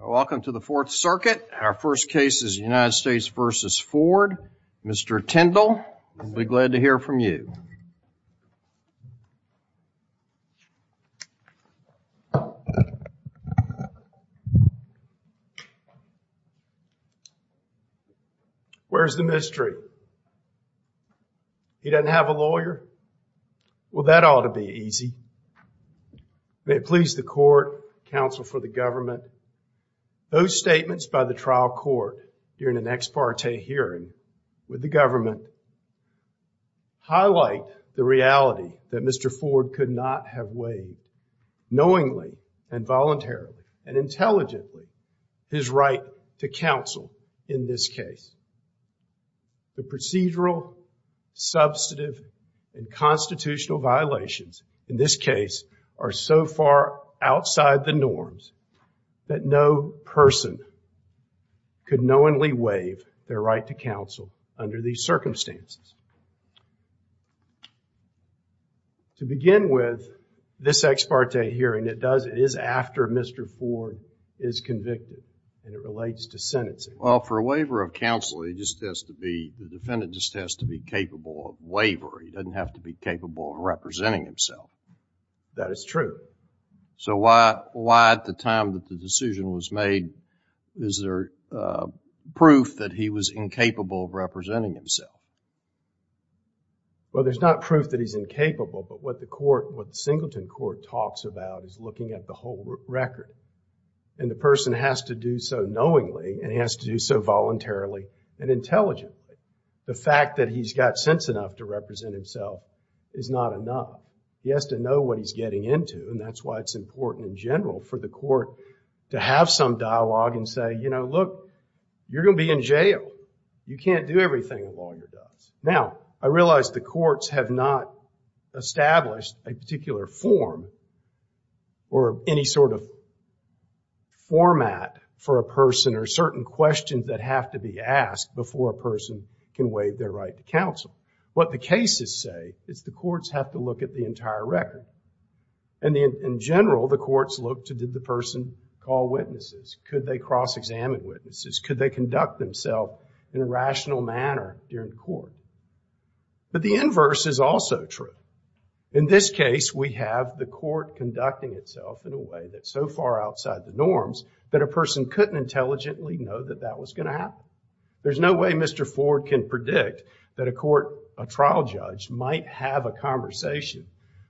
Welcome to the fourth circuit. Our first case is United States versus Ford. Mr. Tindall, I'll be glad to hear from you. Where's the mystery? He doesn't have a lawyer. Well, that ought to be easy. May it please the court, counsel for the government. Those statements by the trial court during an ex parte hearing with the government highlight the reality that Mr. Ford could not have waived knowingly and voluntarily and intelligently his right to counsel in this case. The procedural, substantive, and constitutional violations in this case are so far outside the norms that no person could knowingly waive their right to counsel under these circumstances. To begin with, this ex parte hearing, it does, it is after Mr. Ford is convicted and it relates to sentencing. Well, for a waiver of counsel, he just has to be, the defendant just has to be capable of waiver. He doesn't have to be capable of representing himself. That is true. So why, at the time that the decision was made, is there proof that he was incapable of representing himself? Well, there's not proof that he's incapable, but what the court, what the Singleton court talks about is looking at the whole record. And the person has to do so knowingly and he has to do so voluntarily and intelligently, the fact that he's got sense enough to represent himself is not enough, he has to know what he's getting into and that's why it's important in general for the court to have some dialogue and say, you know, look, you're going to be in jail, you can't do everything a lawyer does. Now, I realize the courts have not established a particular form or any sort of format for a person or certain questions that have to be asked before a person can waive their right to counsel. What the cases say is the courts have to look at the entire record. And in general, the courts look to, did the person call witnesses? Could they cross-examine witnesses? Could they conduct themselves in a rational manner during the court? But the inverse is also true. In this case, we have the court conducting itself in a way that's so far outside the norms that a person couldn't intelligently know that that was going to happen. There's no way Mr. Ford can predict that a court, a trial judge, might have a conversation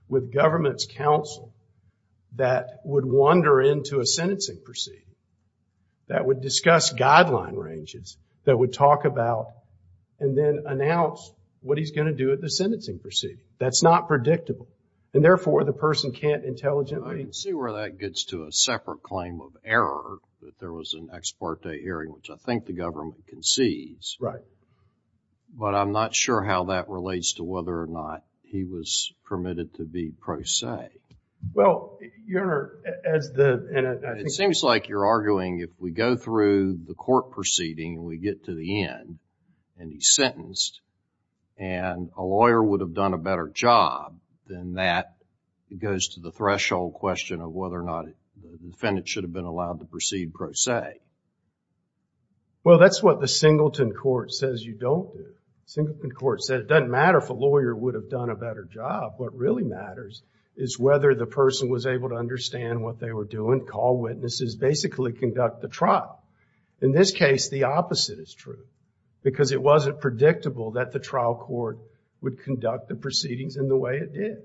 with government's counsel that would wander into a sentencing proceeding, that would discuss guideline ranges, that would talk about and then announce what he's going to do at the sentencing proceeding. That's not predictable. And therefore, the person can't intelligently... I can see where that gets to a separate claim of error, that there was an imparte hearing, which I think the government concedes. But I'm not sure how that relates to whether or not he was permitted to be pro se. Well, Your Honor, as the... It seems like you're arguing if we go through the court proceeding and we get to the end, and he's sentenced, and a lawyer would have done a better job than that, it goes to the threshold question of whether or not the defendant should have been allowed to proceed pro se. Well, that's what the Singleton court says you don't do. Singleton court said it doesn't matter if a lawyer would have done a better job. What really matters is whether the person was able to understand what they were doing, call witnesses, basically conduct the trial. In this case, the opposite is true, because it wasn't predictable that the trial court would conduct the proceedings in the way it did.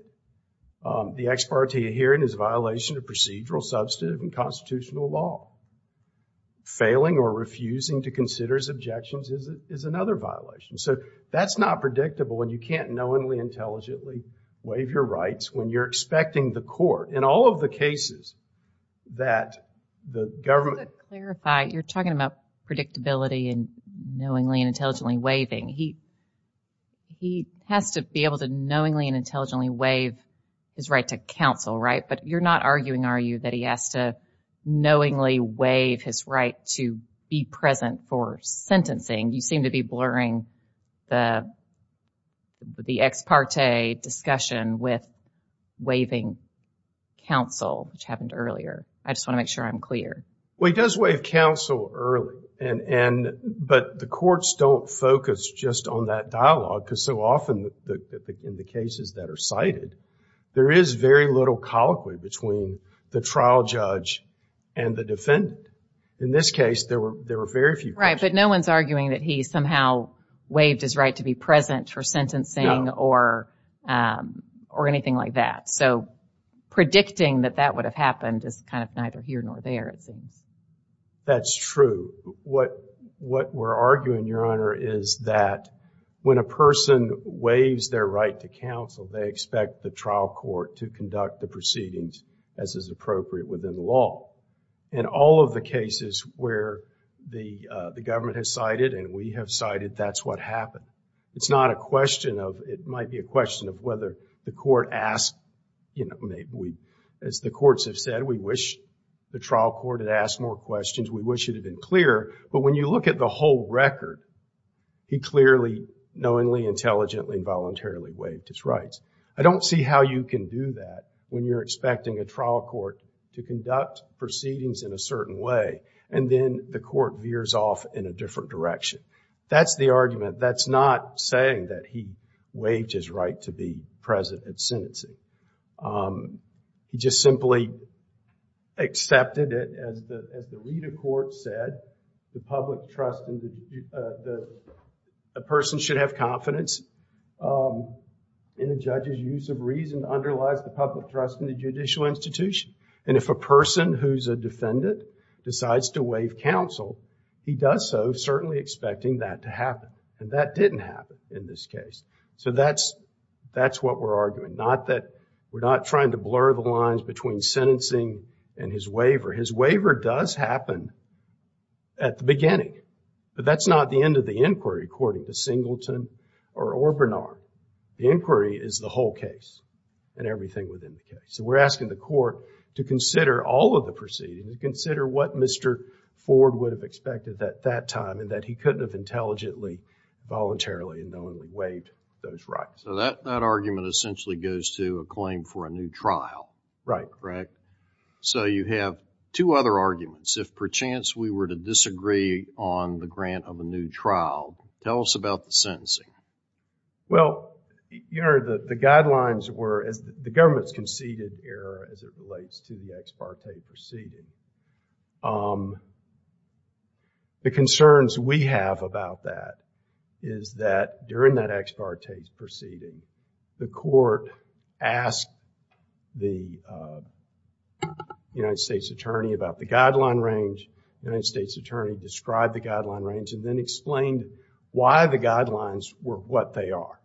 The ex parte hearing is a violation of procedural, substantive, and or refusing to consider his objections is another violation. So, that's not predictable when you can't knowingly, intelligently waive your rights when you're expecting the court. In all of the cases that the government... Just to clarify, you're talking about predictability and knowingly and intelligently waiving. He has to be able to knowingly and intelligently waive his right to counsel, right, but you're not arguing, are you, that he has to knowingly waive his right to be present for sentencing? You seem to be blurring the ex parte discussion with waiving counsel, which happened earlier. I just want to make sure I'm clear. Well, he does waive counsel early, but the courts don't focus just on that dialogue because so often in the cases that are cited, there is very little colloquy between the trial judge and the defendant. In this case, there were very few questions. Right, but no one's arguing that he somehow waived his right to be present for sentencing or anything like that. So, predicting that that would have happened is kind of neither here nor there, it seems. That's true. What we're arguing, Your Honor, is that when a person waives their right to counsel, they expect the trial court to conduct the proceedings as is appropriate within the law. In all of the cases where the government has cited and we have cited, that's what happened. It's not a question of, it might be a question of whether the court asked, you know, maybe we, as the courts have said, we wish the trial court had asked more questions, we wish it had been clearer, but when you look at the whole record, he clearly, knowingly, intelligently, and voluntarily waived his rights. I don't see how you can do that when you're expecting a trial court to conduct proceedings in a certain way, and then the court veers off in a different direction. That's the argument. That's not saying that he waived his right to be present at sentencing. He just simply accepted it as the, as the lead of court said, the public trust in the, the person should have confidence in the judge's use of reason underlies the public trust in the judicial institution, and if a person who's a defendant decides to waive counsel, he does so certainly expecting that to happen, and that didn't happen in this case. So that's, that's what we're arguing. Not that, we're not trying to blur the lines between sentencing and his waiver. His waiver does happen at the beginning, but that's not the end of the inquiry according to Singleton or Bernard. The inquiry is the whole case and everything within the case, and we're asking the court to consider all of the proceedings, to consider what Mr. Ford would have expected at that time, and that he couldn't have intelligently, voluntarily, and knowingly waived those rights. So that, that argument essentially goes to a claim for a new trial. Right. Correct. So you have two other arguments. If perchance we were to disagree on the grant of a new trial, tell us about the sentencing. Well, you know, the, the guidelines were, as the government's conceded error as it relates to the ex parte proceeding. Um, the concerns we have about that is that during that ex parte proceeding, the court asked the, uh, United States attorney about the guideline range. The United States attorney described the guideline range and then explained why the guidelines were what they are.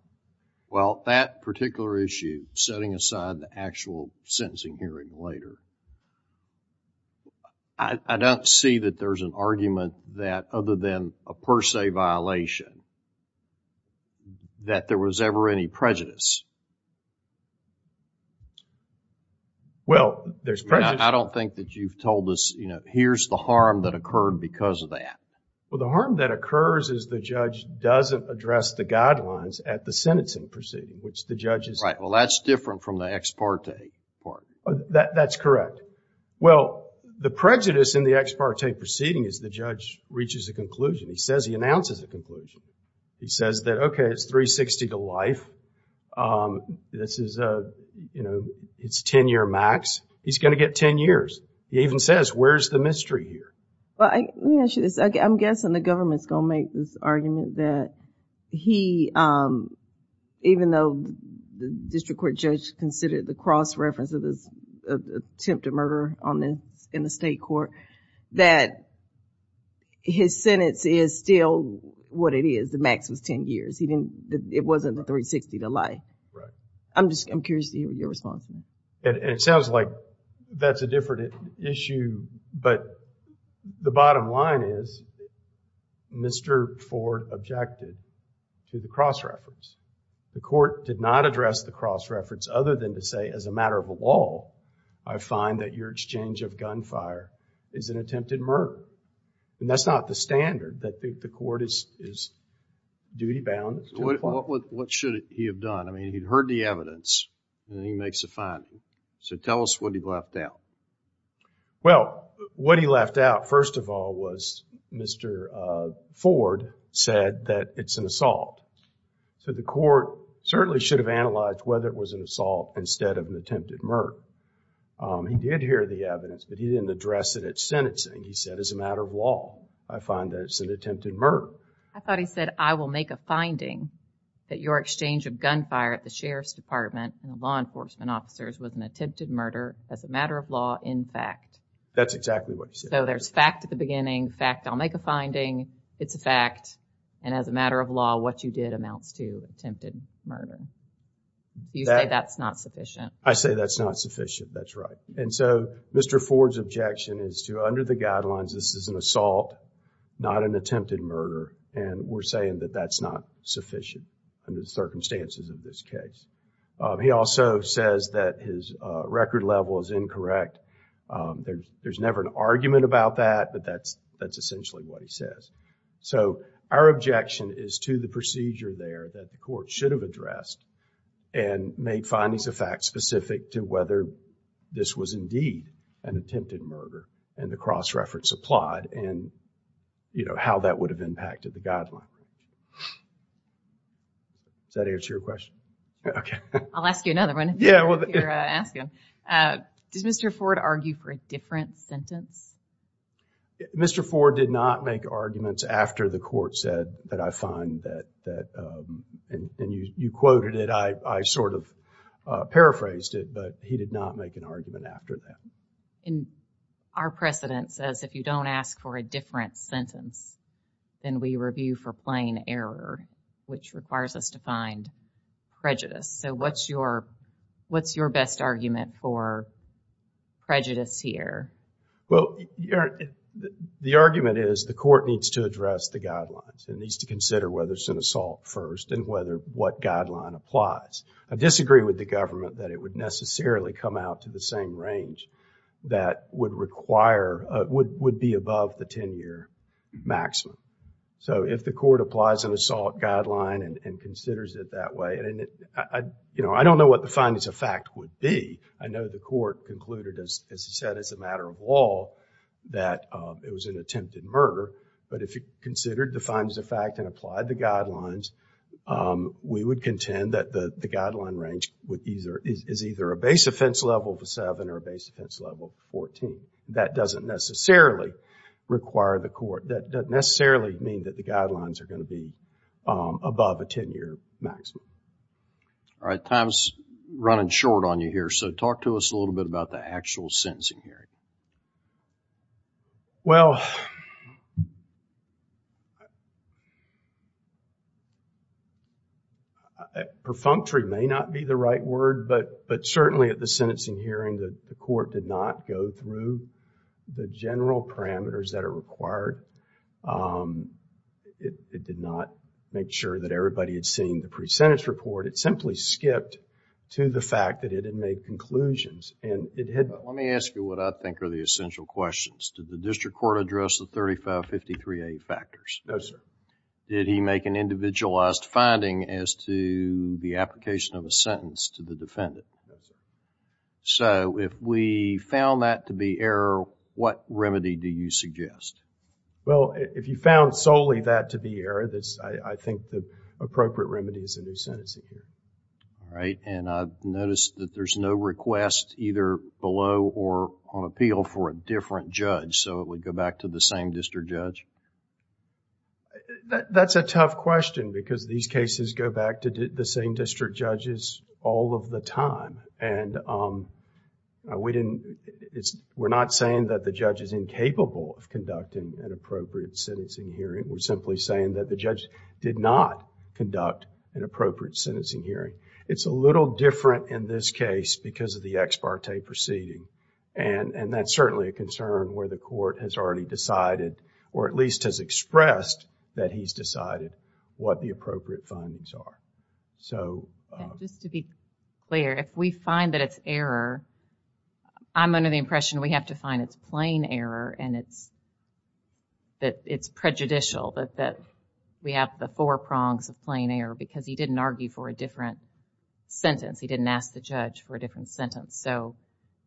Well, that particular issue, setting aside the actual sentencing hearing later, I don't see that there's an argument that other than a per se violation, that there was ever any prejudice. Well, there's prejudice. I don't think that you've told us, you know, here's the harm that occurred because of that. Well, the harm that occurs is the judge doesn't address the guidelines at the sentencing proceeding, which the judge is- Right. Well, that's different from the ex parte part. That, that's correct. Well, the prejudice in the ex parte proceeding is the judge reaches a conclusion. He says, he announces a conclusion. He says that, okay, it's 360 to life. Um, this is a, you know, it's 10 year max. He's going to get 10 years. He even says, where's the mystery here? Well, I, let me ask you this. I'm guessing the government's going to make this argument that he, um, even though the district court judge considered the cross-reference of this attempt to murder on the, in the state court, that his sentence is still what it is, the max was 10 years. He didn't, it wasn't the 360 to life. Right. I'm just, I'm curious to hear your response. And it sounds like that's a different issue, but the bottom line is Mr. Ford objected to the cross-reference. The court did not address the cross-reference other than to say, as a matter of law, I find that your exchange of gunfire is an attempted murder. And that's not the standard that the court is, is duty bound to apply. What should he have done? I mean, he'd heard the evidence and he makes a finding. So tell us what he left out. Well, what he left out, first of all, was Mr. Ford said that it's an assault. So the court certainly should have analyzed whether it was an assault instead of an attempted murder. Um, he did hear the evidence, but he didn't address it at sentencing. He said, as a matter of law, I find that it's an attempted murder. I thought he said, I will make a finding that your exchange of gunfire at the sheriff's department and law enforcement officers was an attempted murder as a matter of law, in fact. That's exactly what he said. So there's fact at the beginning, fact, I'll make a finding. It's a fact. And as a matter of law, what you did amounts to attempted murder. You say that's not sufficient. I say that's not sufficient. That's right. And so Mr. Ford's objection is to, under the guidelines, this is an assault, not an attempted murder, and we're saying that that's not sufficient under the circumstances of this case. Um, he also says that his, uh, record level is incorrect. Um, there's, there's never an argument about that, but that's, that's essentially what he says. So our objection is to the procedure there that the court should have addressed and made findings of fact specific to whether this was indeed an attempted murder and the cross-reference applied. And, you know, how that would have impacted the guideline. Does that answer your question? Okay. I'll ask you another one. Yeah. Well, if you're asking, uh, does Mr. Ford argue for a different sentence? Mr. Ford did not make arguments after the court said that I find that, that, um, and you, you quoted it. I, I sort of, uh, paraphrased it, but he did not make an argument after that. And our precedent says if you don't ask for a different sentence, then we review for plain error, which requires us to find prejudice. So what's your, what's your best argument for prejudice here? Well, the argument is the court needs to address the guidelines and needs to consider whether it's an assault first and whether what guideline applies. I disagree with the government that it would necessarily come out to the same range. That would require, uh, would, would be above the 10 year maximum. So if the court applies an assault guideline and considers it that way, and it, I, you know, I don't know what the findings of fact would be. I know the court concluded, as he said, as a matter of law, that, uh, it was an attempted murder. But if you considered the findings of fact and applied the guidelines, um, we would contend that the guideline range would either, is either a base offense level of a seven or a base offense level of 14, that doesn't necessarily require the court, that doesn't necessarily mean that the guidelines are going to be, um, above a 10 year maximum. All right. Time's running short on you here. So talk to us a little bit about the actual sentencing hearing. Well, I, perfunctory may not be the right word, but, but certainly at the sentencing hearing, the court did not go through the general parameters that are required. Um, it, it did not make sure that everybody had seen the pre-sentence report. It simply skipped to the fact that it had made conclusions and it had. Let me ask you what I think are the essential questions. Did the district court address the 3553A factors? No, sir. Did he make an individualized finding as to the application of a sentence to the defendant? So if we found that to be error, what remedy do you suggest? Well, if you found solely that to be error, this, I think the appropriate remedy is a new sentencing hearing. All right. And I've noticed that there's no request either below or on appeal for a different judge, so it would go back to the same district judge? That's a tough question because these cases go back to the same district judges all of the time and, um, we didn't, it's, we're not saying that the judge is incapable of conducting an appropriate sentencing hearing. We're simply saying that the judge did not conduct an appropriate sentencing hearing. It's a little different in this case because of the ex parte proceeding. And, and that's certainly a concern where the court has already decided, or at least has expressed that he's decided what the appropriate findings are. So. Just to be clear, if we find that it's error, I'm under the impression we have to find it's plain error and it's, that it's prejudicial that, that we have the four prongs of plain error because he didn't argue for a different sentence. He didn't ask the judge for a different sentence. So,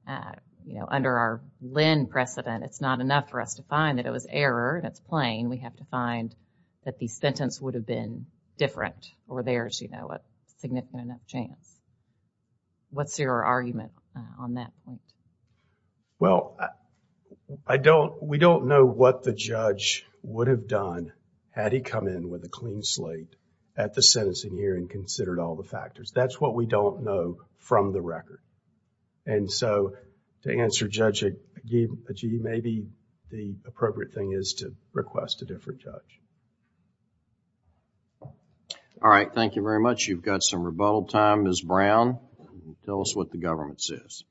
uh, you know, under our Lynn precedent, it's not enough for us to find that it was error and it's plain. We have to find that the sentence would have been different or there's, you know, a significant enough chance. What's your argument on that? Well, I don't, we don't know what the judge would have done had he come in with a clean slate at the sentencing hearing and considered all the factors. That's what we don't know from the record. And so to answer Judge Agibiji, maybe the appropriate thing is to request a different judge. All right. Thank you very much. You've got some rebuttal time. Ms. Brown, tell us what the government says.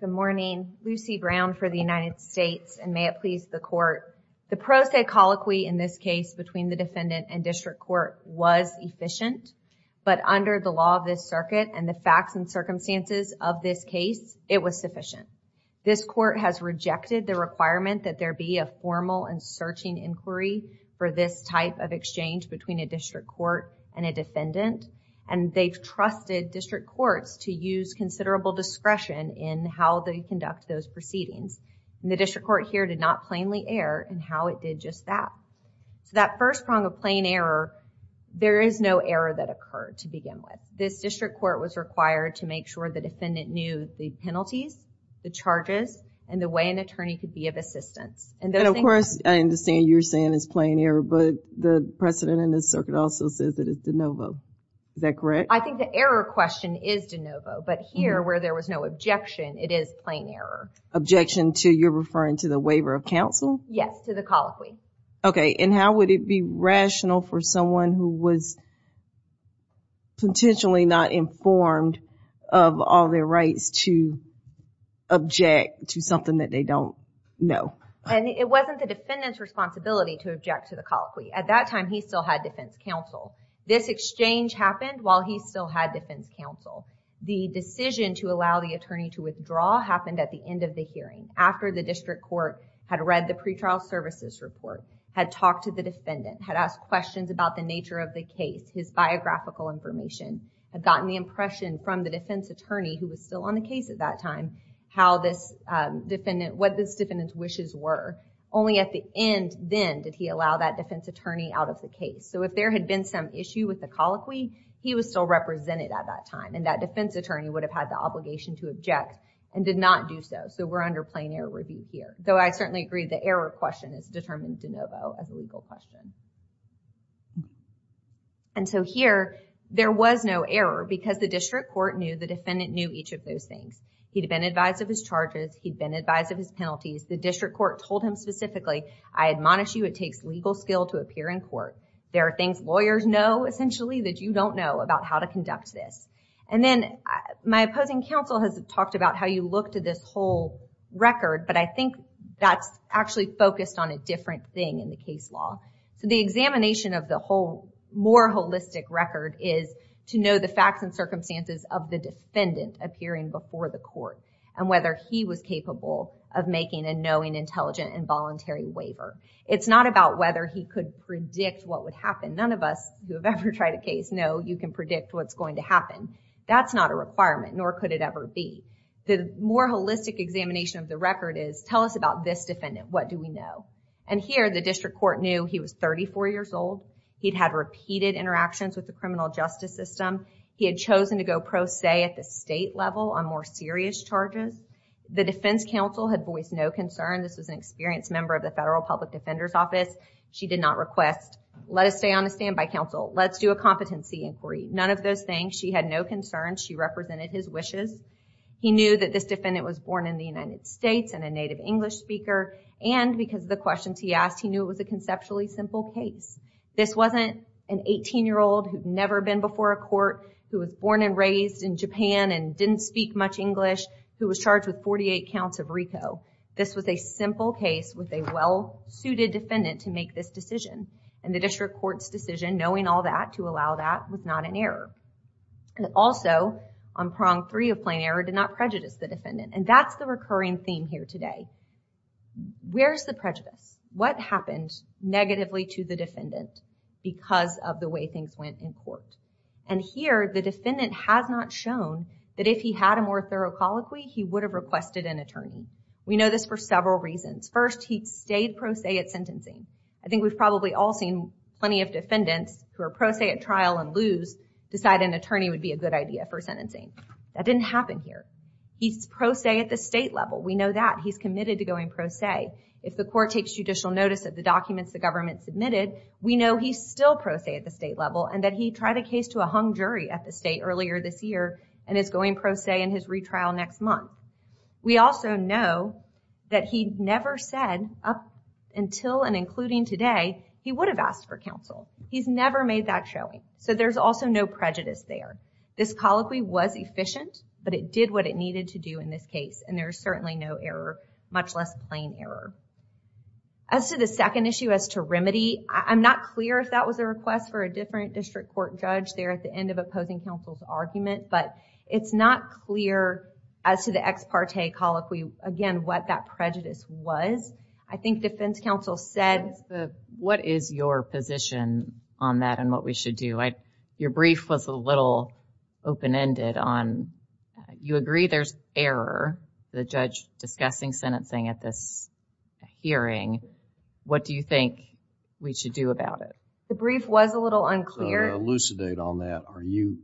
Good morning, Lucy Brown for the United States. And may it please the court, the pro se colloquy in this case between the defendant and district court was efficient, but under the law of this circuit and the facts and circumstances of this case, it was sufficient. This court has rejected the requirement that there be a formal and searching inquiry for this type of exchange between a district court and a defendant. And they've trusted district courts to use considerable discretion in how they conduct those proceedings. And the district court here did not plainly error in how it did just that. So that first prong of plain error, there is no error that occurred to begin with. This district court was required to make sure the defendant knew the penalties, the charges, and the way an attorney could be of assistance. And then of course, I understand you're saying it's plain error, but the precedent in this circuit also says that it's de novo. Is that correct? I think the error question is de novo, but here where there was no objection, it is plain error. Objection to, you're referring to the waiver of counsel? Yes, to the colloquy. Okay. And how would it be rational for someone who was potentially not informed of all their rights to object to something that they don't know? And it wasn't the defendant's responsibility to object to the colloquy. At that time, he still had defense counsel. This exchange happened while he still had defense counsel. The decision to allow the attorney to withdraw happened at the end of the hearing, after the district court had read the pretrial services report, had talked to the defendant, had asked questions about the nature of the case. His biographical information had gotten the impression from the defense attorney who was still on the case at that time, how this defendant, what this defendant's wishes were. Only at the end then did he allow that defense attorney out of the case. So if there had been some issue with the colloquy, he was still represented at that time. And that defense attorney would have had the obligation to object and did not do so. So we're under plain error review here. Though I certainly agree the error question is determined de novo as a legal question. And so here there was no error because the district court knew the defendant knew each of those things. He'd been advised of his charges. He'd been advised of his penalties. The district court told him specifically, I admonish you. It takes legal skill to appear in court. There are things lawyers know essentially that you don't know about how to conduct this. And then my opposing counsel has talked about how you look to this whole record, but I think that's actually focused on a different thing in the case law. So the examination of the whole more holistic record is to know the facts and circumstances of the defendant appearing before the court and whether he was capable of making a knowing, intelligent, and voluntary waiver. It's not about whether he could predict what would happen. None of us who have ever tried a case know you can predict what's going to happen. That's not a requirement, nor could it ever be. The more holistic examination of the record is tell us about this defendant, what do we know? And here the district court knew he was 34 years old. He'd had repeated interactions with the criminal justice system. He had chosen to go pro se at the state level on more serious charges. The defense counsel had voiced no concern. This was an experienced member of the federal public defender's office. She did not request, let us stay on a standby counsel. Let's do a competency inquiry. None of those things. She had no concern. She represented his wishes. He knew that this defendant was born in the United States and a native English speaker, and because of the questions he asked, he knew it was a conceptually simple case. This wasn't an 18 year old who'd never been before a court, who was born and raised in Japan and didn't speak much English, who was charged with 48 counts of RICO. This was a simple case with a well suited defendant to make this decision. And the district court's decision, knowing all that to allow that was not an error. And also on prong three of plain error did not prejudice the defendant. And that's the recurring theme here today. Where's the prejudice? What happened negatively to the defendant because of the way things went in court? And here the defendant has not shown that if he had a more thorough colloquy, he would have requested an attorney. We know this for several reasons. First, he'd stayed pro se at sentencing. I think we've probably all seen plenty of defendants who are pro se at trial and decide an attorney would be a good idea for sentencing. That didn't happen here. He's pro se at the state level. We know that he's committed to going pro se. If the court takes judicial notice of the documents the government submitted, we know he's still pro se at the state level and that he tried a case to a hung jury at the state earlier this year and is going pro se in his retrial next month. We also know that he never said up until and including today, he would have asked for counsel. He's never made that showing. So there's also no prejudice there. This colloquy was efficient, but it did what it needed to do in this case. And there's certainly no error, much less plain error. As to the second issue as to remedy, I'm not clear if that was a request for a different district court judge there at the end of opposing counsel's argument, but it's not clear as to the ex parte colloquy, again, what that prejudice was. I think defense counsel said, what is your position on that and what we should do? Your brief was a little open-ended on, you agree there's error, the judge discussing sentencing at this hearing. What do you think we should do about it? The brief was a little unclear. So to elucidate on that, are you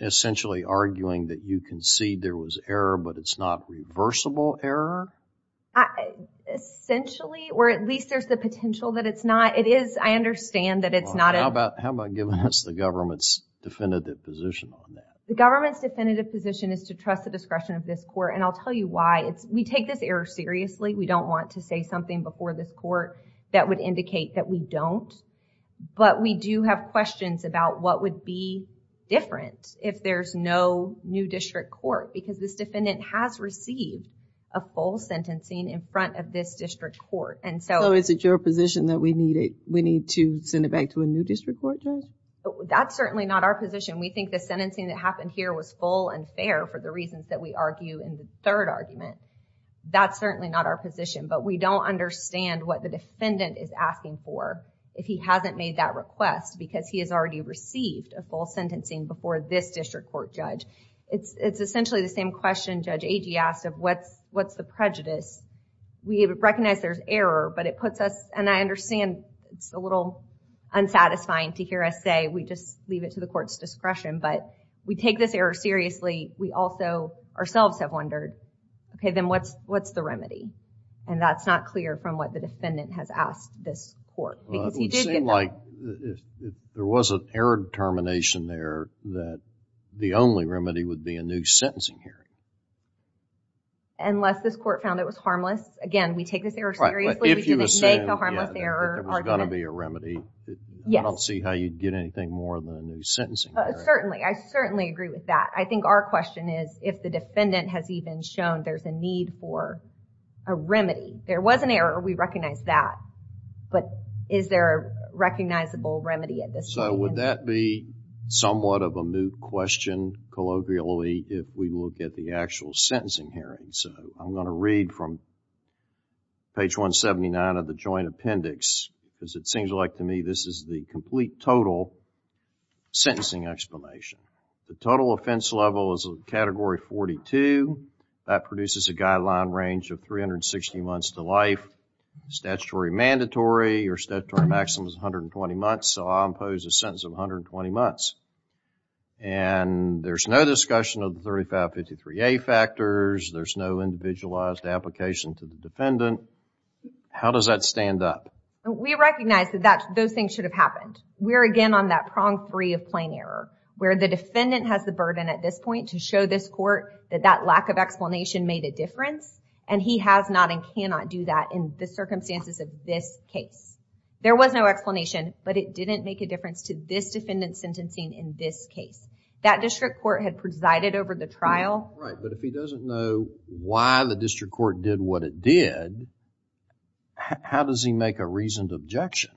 essentially arguing that you concede there was error, but it's not reversible error? Essentially, or at least there's the potential that it's not. It is, I understand that it's not. How about giving us the government's definitive position on that? The government's definitive position is to trust the discretion of this court. And I'll tell you why. We take this error seriously. We don't want to say something before this court that would indicate that we don't, but we do have questions about what would be different if there's no new district court, because this defendant has received a full sentencing in front of this district court. Is it your position that we need to send it back to a new district court judge? That's certainly not our position. We think the sentencing that happened here was full and fair for the reasons that we argue in the third argument. That's certainly not our position, but we don't understand what the defendant is asking for if he hasn't made that request because he has already received a full sentencing before this district court judge. It's essentially the same question Judge Agee asked of what's the prejudice? We recognize there's error, but it puts us, and I understand it's a little unsatisfying to hear us say we just leave it to the court's discretion, but we take this error seriously. We also ourselves have wondered, okay, then what's the remedy? And that's not clear from what the defendant has asked this court. Well, it would seem like if there was an error determination there that the only remedy would be a new sentencing hearing. Unless this court found it was harmless. Again, we take this error seriously. If you assume there was going to be a remedy, I don't see how you'd get anything more than a new sentencing hearing. Certainly. I certainly agree with that. I think our question is if the defendant has even shown there's a need for a remedy, there was an error. We recognize that, but is there a recognizable remedy at this point? So would that be somewhat of a moot question colloquially if we look at the actual sentencing hearing? So I'm going to read from page 179 of the joint appendix because it seems like to me this is the complete total sentencing explanation. The total offense level is category 42. That produces a guideline range of 360 months to life. Statutory mandatory or statutory maximum is 120 months. So I'll impose a sentence of 120 months. And there's no discussion of the 3553A factors. There's no individualized application to the defendant. How does that stand up? We recognize that those things should have happened. We're again on that prong three of plain error where the defendant has the burden at this point to show this court that that lack of explanation made a difference. And he has not and cannot do that in the circumstances of this case. There was no explanation, but it didn't make a difference to this defendant sentencing in this case. That district court had presided over the trial. Right. But if he doesn't know why the district court did what it did, how does he make a reasoned objection?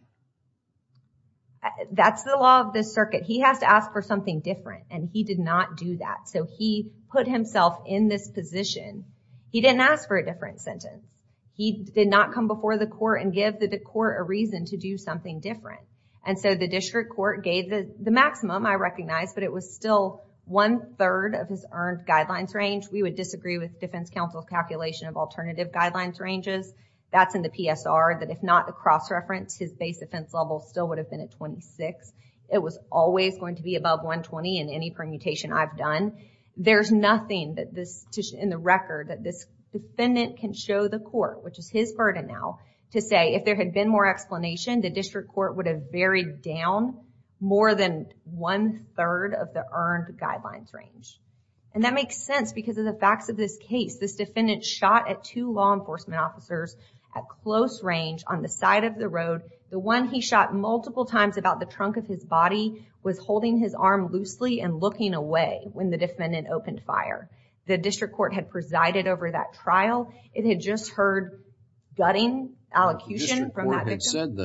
That's the law of this circuit. He has to ask for something different and he did not do that. So he put himself in this position. He didn't ask for a different sentence. He did not come before the court and give the court a reason to do something different. And so the district court gave the maximum, I recognize, but it was still one third of his earned guidelines range. We would disagree with defense counsel's calculation of alternative guidelines ranges. That's in the PSR that if not a cross reference, his base offense level still would have been at 26. It was always going to be above 120 in any permutation I've done. There's nothing that this in the record that this defendant can show the court, which is his burden now, to say if there had been more explanation, the district court would have buried down more than one third of the earned guidelines range. And that makes sense because of the facts of this case, this defendant shot at two law enforcement officers at close range on the side of the road. The one he shot multiple times about the trunk of his body was holding his arm loosely and looking away. When the defendant opened fire, the district court had presided over that trial. It had just heard gutting allocution from that victim.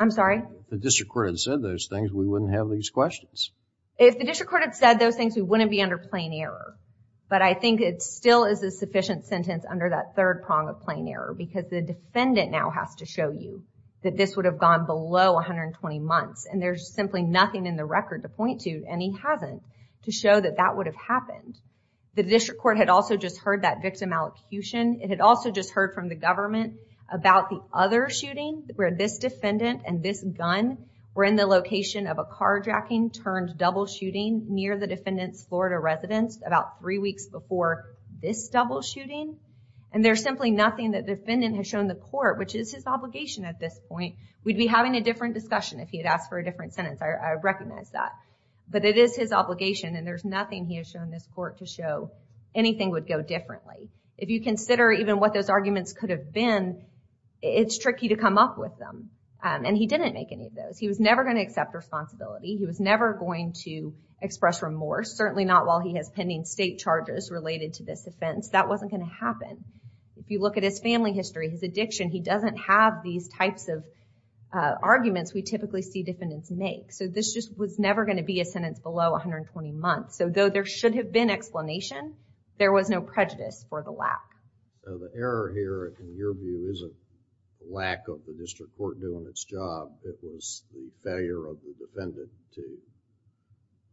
I'm sorry? The district court had said those things. We wouldn't have these questions. If the district court had said those things, we wouldn't be under plain error. But I think it still is a sufficient sentence under that third prong of plain error because the defendant now has to show you that this would have gone below 120 months. And there's simply nothing in the record to point to, and he hasn't, to show that that would have happened. The district court had also just heard that victim allocution. It had also just heard from the government about the other shooting where this defendant and this gun were in the location of a carjacking turned double shooting near the defendant's Florida residence about three weeks before this double shooting. And there's simply nothing that defendant has shown the court, which is his obligation at this point. We'd be having a different discussion if he had asked for a different sentence. I recognize that, but it is his obligation and there's nothing he has shown this court to show anything would go differently. If you consider even what those arguments could have been, it's tricky to come up with them. And he didn't make any of those. He was never going to accept responsibility. He was never going to express remorse. Certainly not while he has pending state charges related to this offense, that wasn't going to happen. If you look at his family history, his addiction, he doesn't have these types of arguments we typically see defendants make. So this just was never going to be a sentence below 120 months. So though there should have been explanation, there was no prejudice for the lack. The error here, in your view, isn't lack of the district court doing its job. It was the failure of the defendant to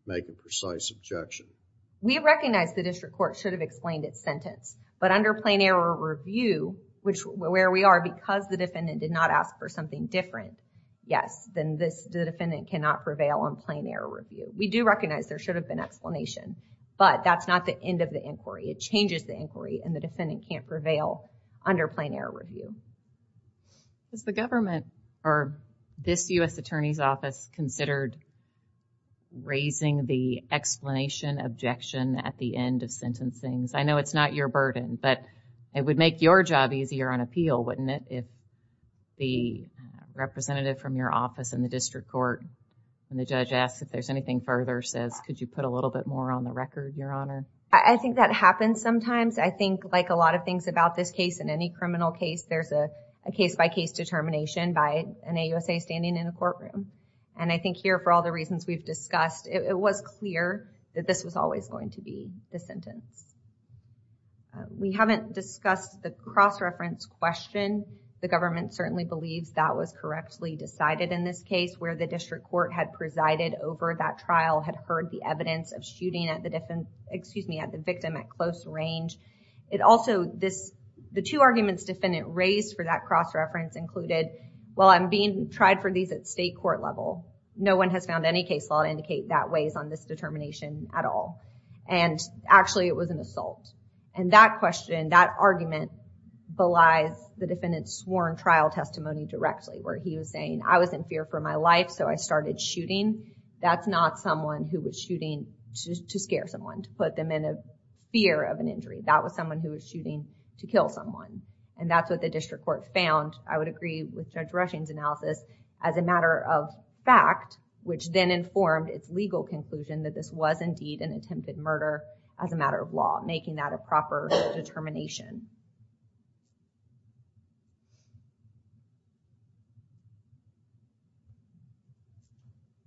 make a precise objection. We recognize the district court should have explained its sentence, but under plain error review, which where we are because the defendant did not ask for something different, yes, then this defendant cannot prevail on plain error review. We do recognize there should have been explanation, but that's not the end of the inquiry. It changes the inquiry and the defendant can't prevail under plain error review. Is the government or this U.S. Attorney's Office considered raising the explanation objection at the end of sentencing? I know it's not your burden, but it would make your job easier on appeal, wouldn't it? If the representative from your office and the district court and the judge ask if there's anything further, says, could you put a little bit more on the record, Your Honor? I think that happens sometimes. I think like a lot of things about this case, in any criminal case, there's a case-by-case determination by an AUSA standing in the courtroom. And I think here, for all the reasons we've discussed, it was clear that this was always going to be the sentence. We haven't discussed the cross-reference question. The government certainly believes that was correctly decided in this case where the district court had presided over that trial, had heard the evidence of shooting at the victim at close range. It also, the two arguments defendant raised for that cross-reference included, while I'm being tried for these at state court level, no one has found any case law to indicate that weighs on this determination at all. And actually it was an assault. And that question, that argument belies the defendant's sworn trial testimony directly, where he was saying, I was in fear for my life, so I started shooting. That's not someone who was shooting to scare someone, to put them in a fear of an injury. That was someone who was shooting to kill someone. And that's what the district court found, I would agree with Judge Rushing's analysis, as a matter of fact, which then informed its legal conclusion that this was indeed an attempted murder as a matter of law, making that a proper determination.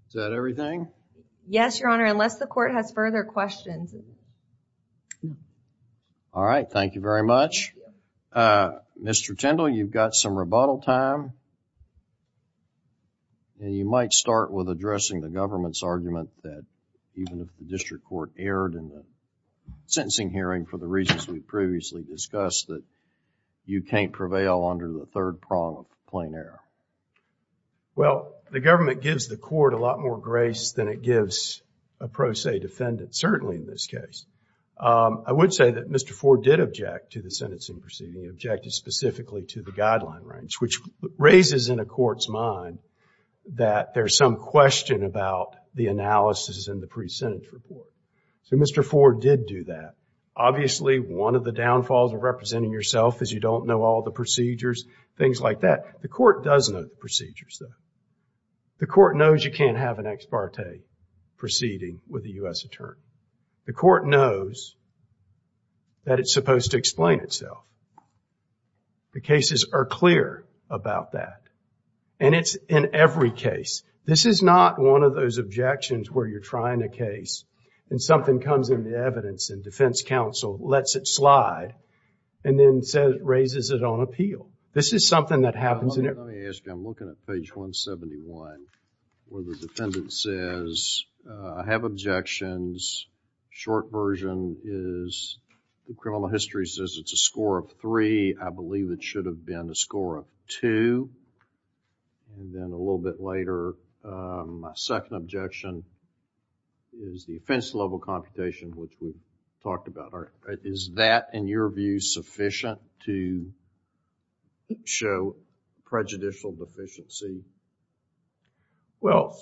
Is that everything? Yes, Your Honor, unless the court has further questions. All right. Thank you very much. Mr. Tindall, you've got some rebuttal time. And you might start with addressing the government's argument that even if the district court erred in the sentencing hearing for the reasons we've previously discussed, that you can't prevail under the third prong of the plain error. Well, the government gives the court a lot more grace than it gives a pro se defendant, certainly in this case. I would say that Mr. Ford did object to the sentencing proceeding, objected specifically to the guideline range, which raises in a court's mind that there's some question about the analysis in the pre-sentence report. So Mr. Ford did do that. Obviously, one of the downfalls of representing yourself is you don't know all the procedures, things like that. The court does know the procedures though. The court knows you can't have an ex parte proceeding with a U.S. attorney. The court knows that it's supposed to explain itself. The cases are clear about that and it's in every case. This is not one of those objections where you're trying a case and something comes in the evidence and defense counsel lets it slide and then says, raises it on appeal. This is something that happens. Let me ask you, I'm looking at page 171 where the defendant says, I have objections, short version is the criminal history says it's a score of three. I believe it should have been a score of two and then a little bit later, my second objection is the offense level computation, which we've talked about. Is that, in your view, sufficient to show prejudicial deficiency? Well,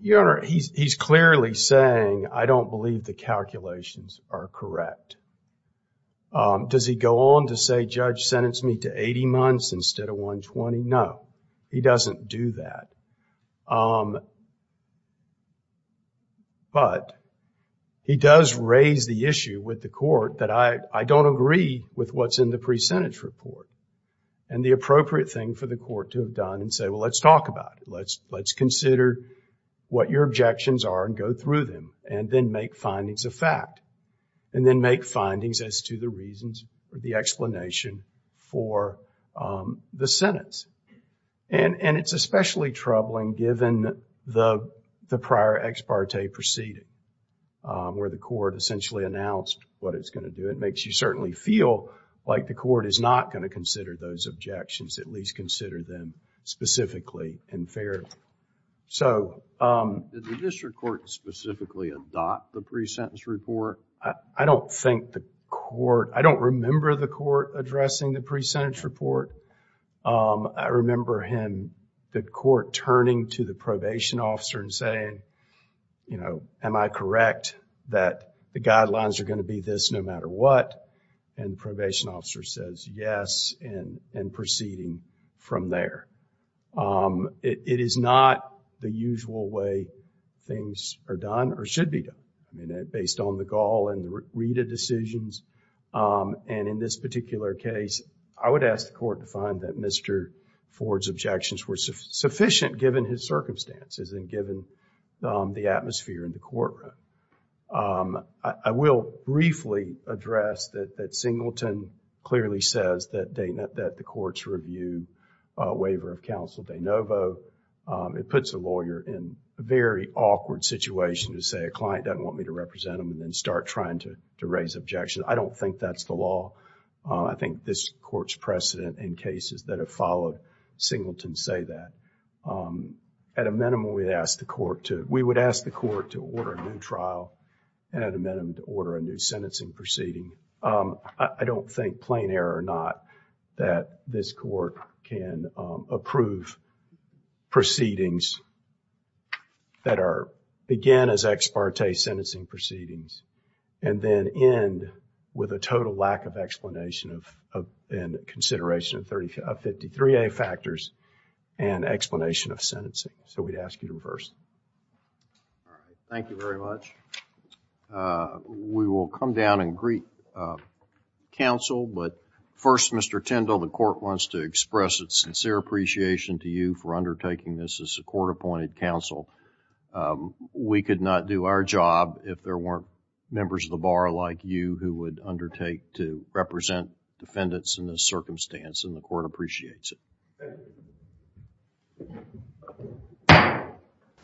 Your Honor, he's clearly saying, I don't believe the calculations are correct. Does he go on to say, judge sentenced me to 80 months instead of 120? No, he doesn't do that. But he does raise the issue with the court that I don't agree with what's in the pre-sentence report and the appropriate thing for the court to have done and say, well, let's talk about it. Let's consider what your objections are and go through them and then make findings of fact and then make findings as to the reasons or the explanation for the sentence. And it's especially troubling given the prior ex parte proceeding where the court essentially announced what it's going to do. It makes you certainly feel like the court is not going to consider those objections, at least consider them specifically and fairly. So, did the district court specifically adopt the pre-sentence report? I don't think the court, I don't remember the court addressing the pre-sentence report, I remember him, the court, turning to the probation officer and saying, you know, am I correct that the guidelines are going to be this no matter what, and the probation officer says yes and proceeding from there. It is not the usual way things are done or should be done. I mean, based on the Gall and the Rita decisions and in this particular case, I would ask the court to find that Mr. Ford's objections were sufficient given his circumstances and given the atmosphere in the courtroom. I will briefly address that Singleton clearly says that they, that the court's review waiver of counsel de novo, it puts a lawyer in a very awkward situation to say a client doesn't want me to represent them and then start trying to raise objections. I don't think that's the law. I think this court's precedent in cases that have followed Singleton say that. At a minimum, we'd ask the court to, we would ask the court to order a new trial and at a minimum, to order a new sentencing proceeding. I don't think, plain error or not, that this court can approve proceedings that are, again, as ex parte sentencing proceedings and then end with a total lack of explanation of, and consideration of 33A factors and explanation of sentencing. So we'd ask you to reverse. Thank you very much. Uh, we will come down and greet, uh, counsel, but first, Mr. Tindall, the court wants to express its sincere appreciation to you for undertaking this as a court appointed counsel. Um, we could not do our job if there weren't members of the bar like you who would undertake to represent defendants in this circumstance and the court appreciates it.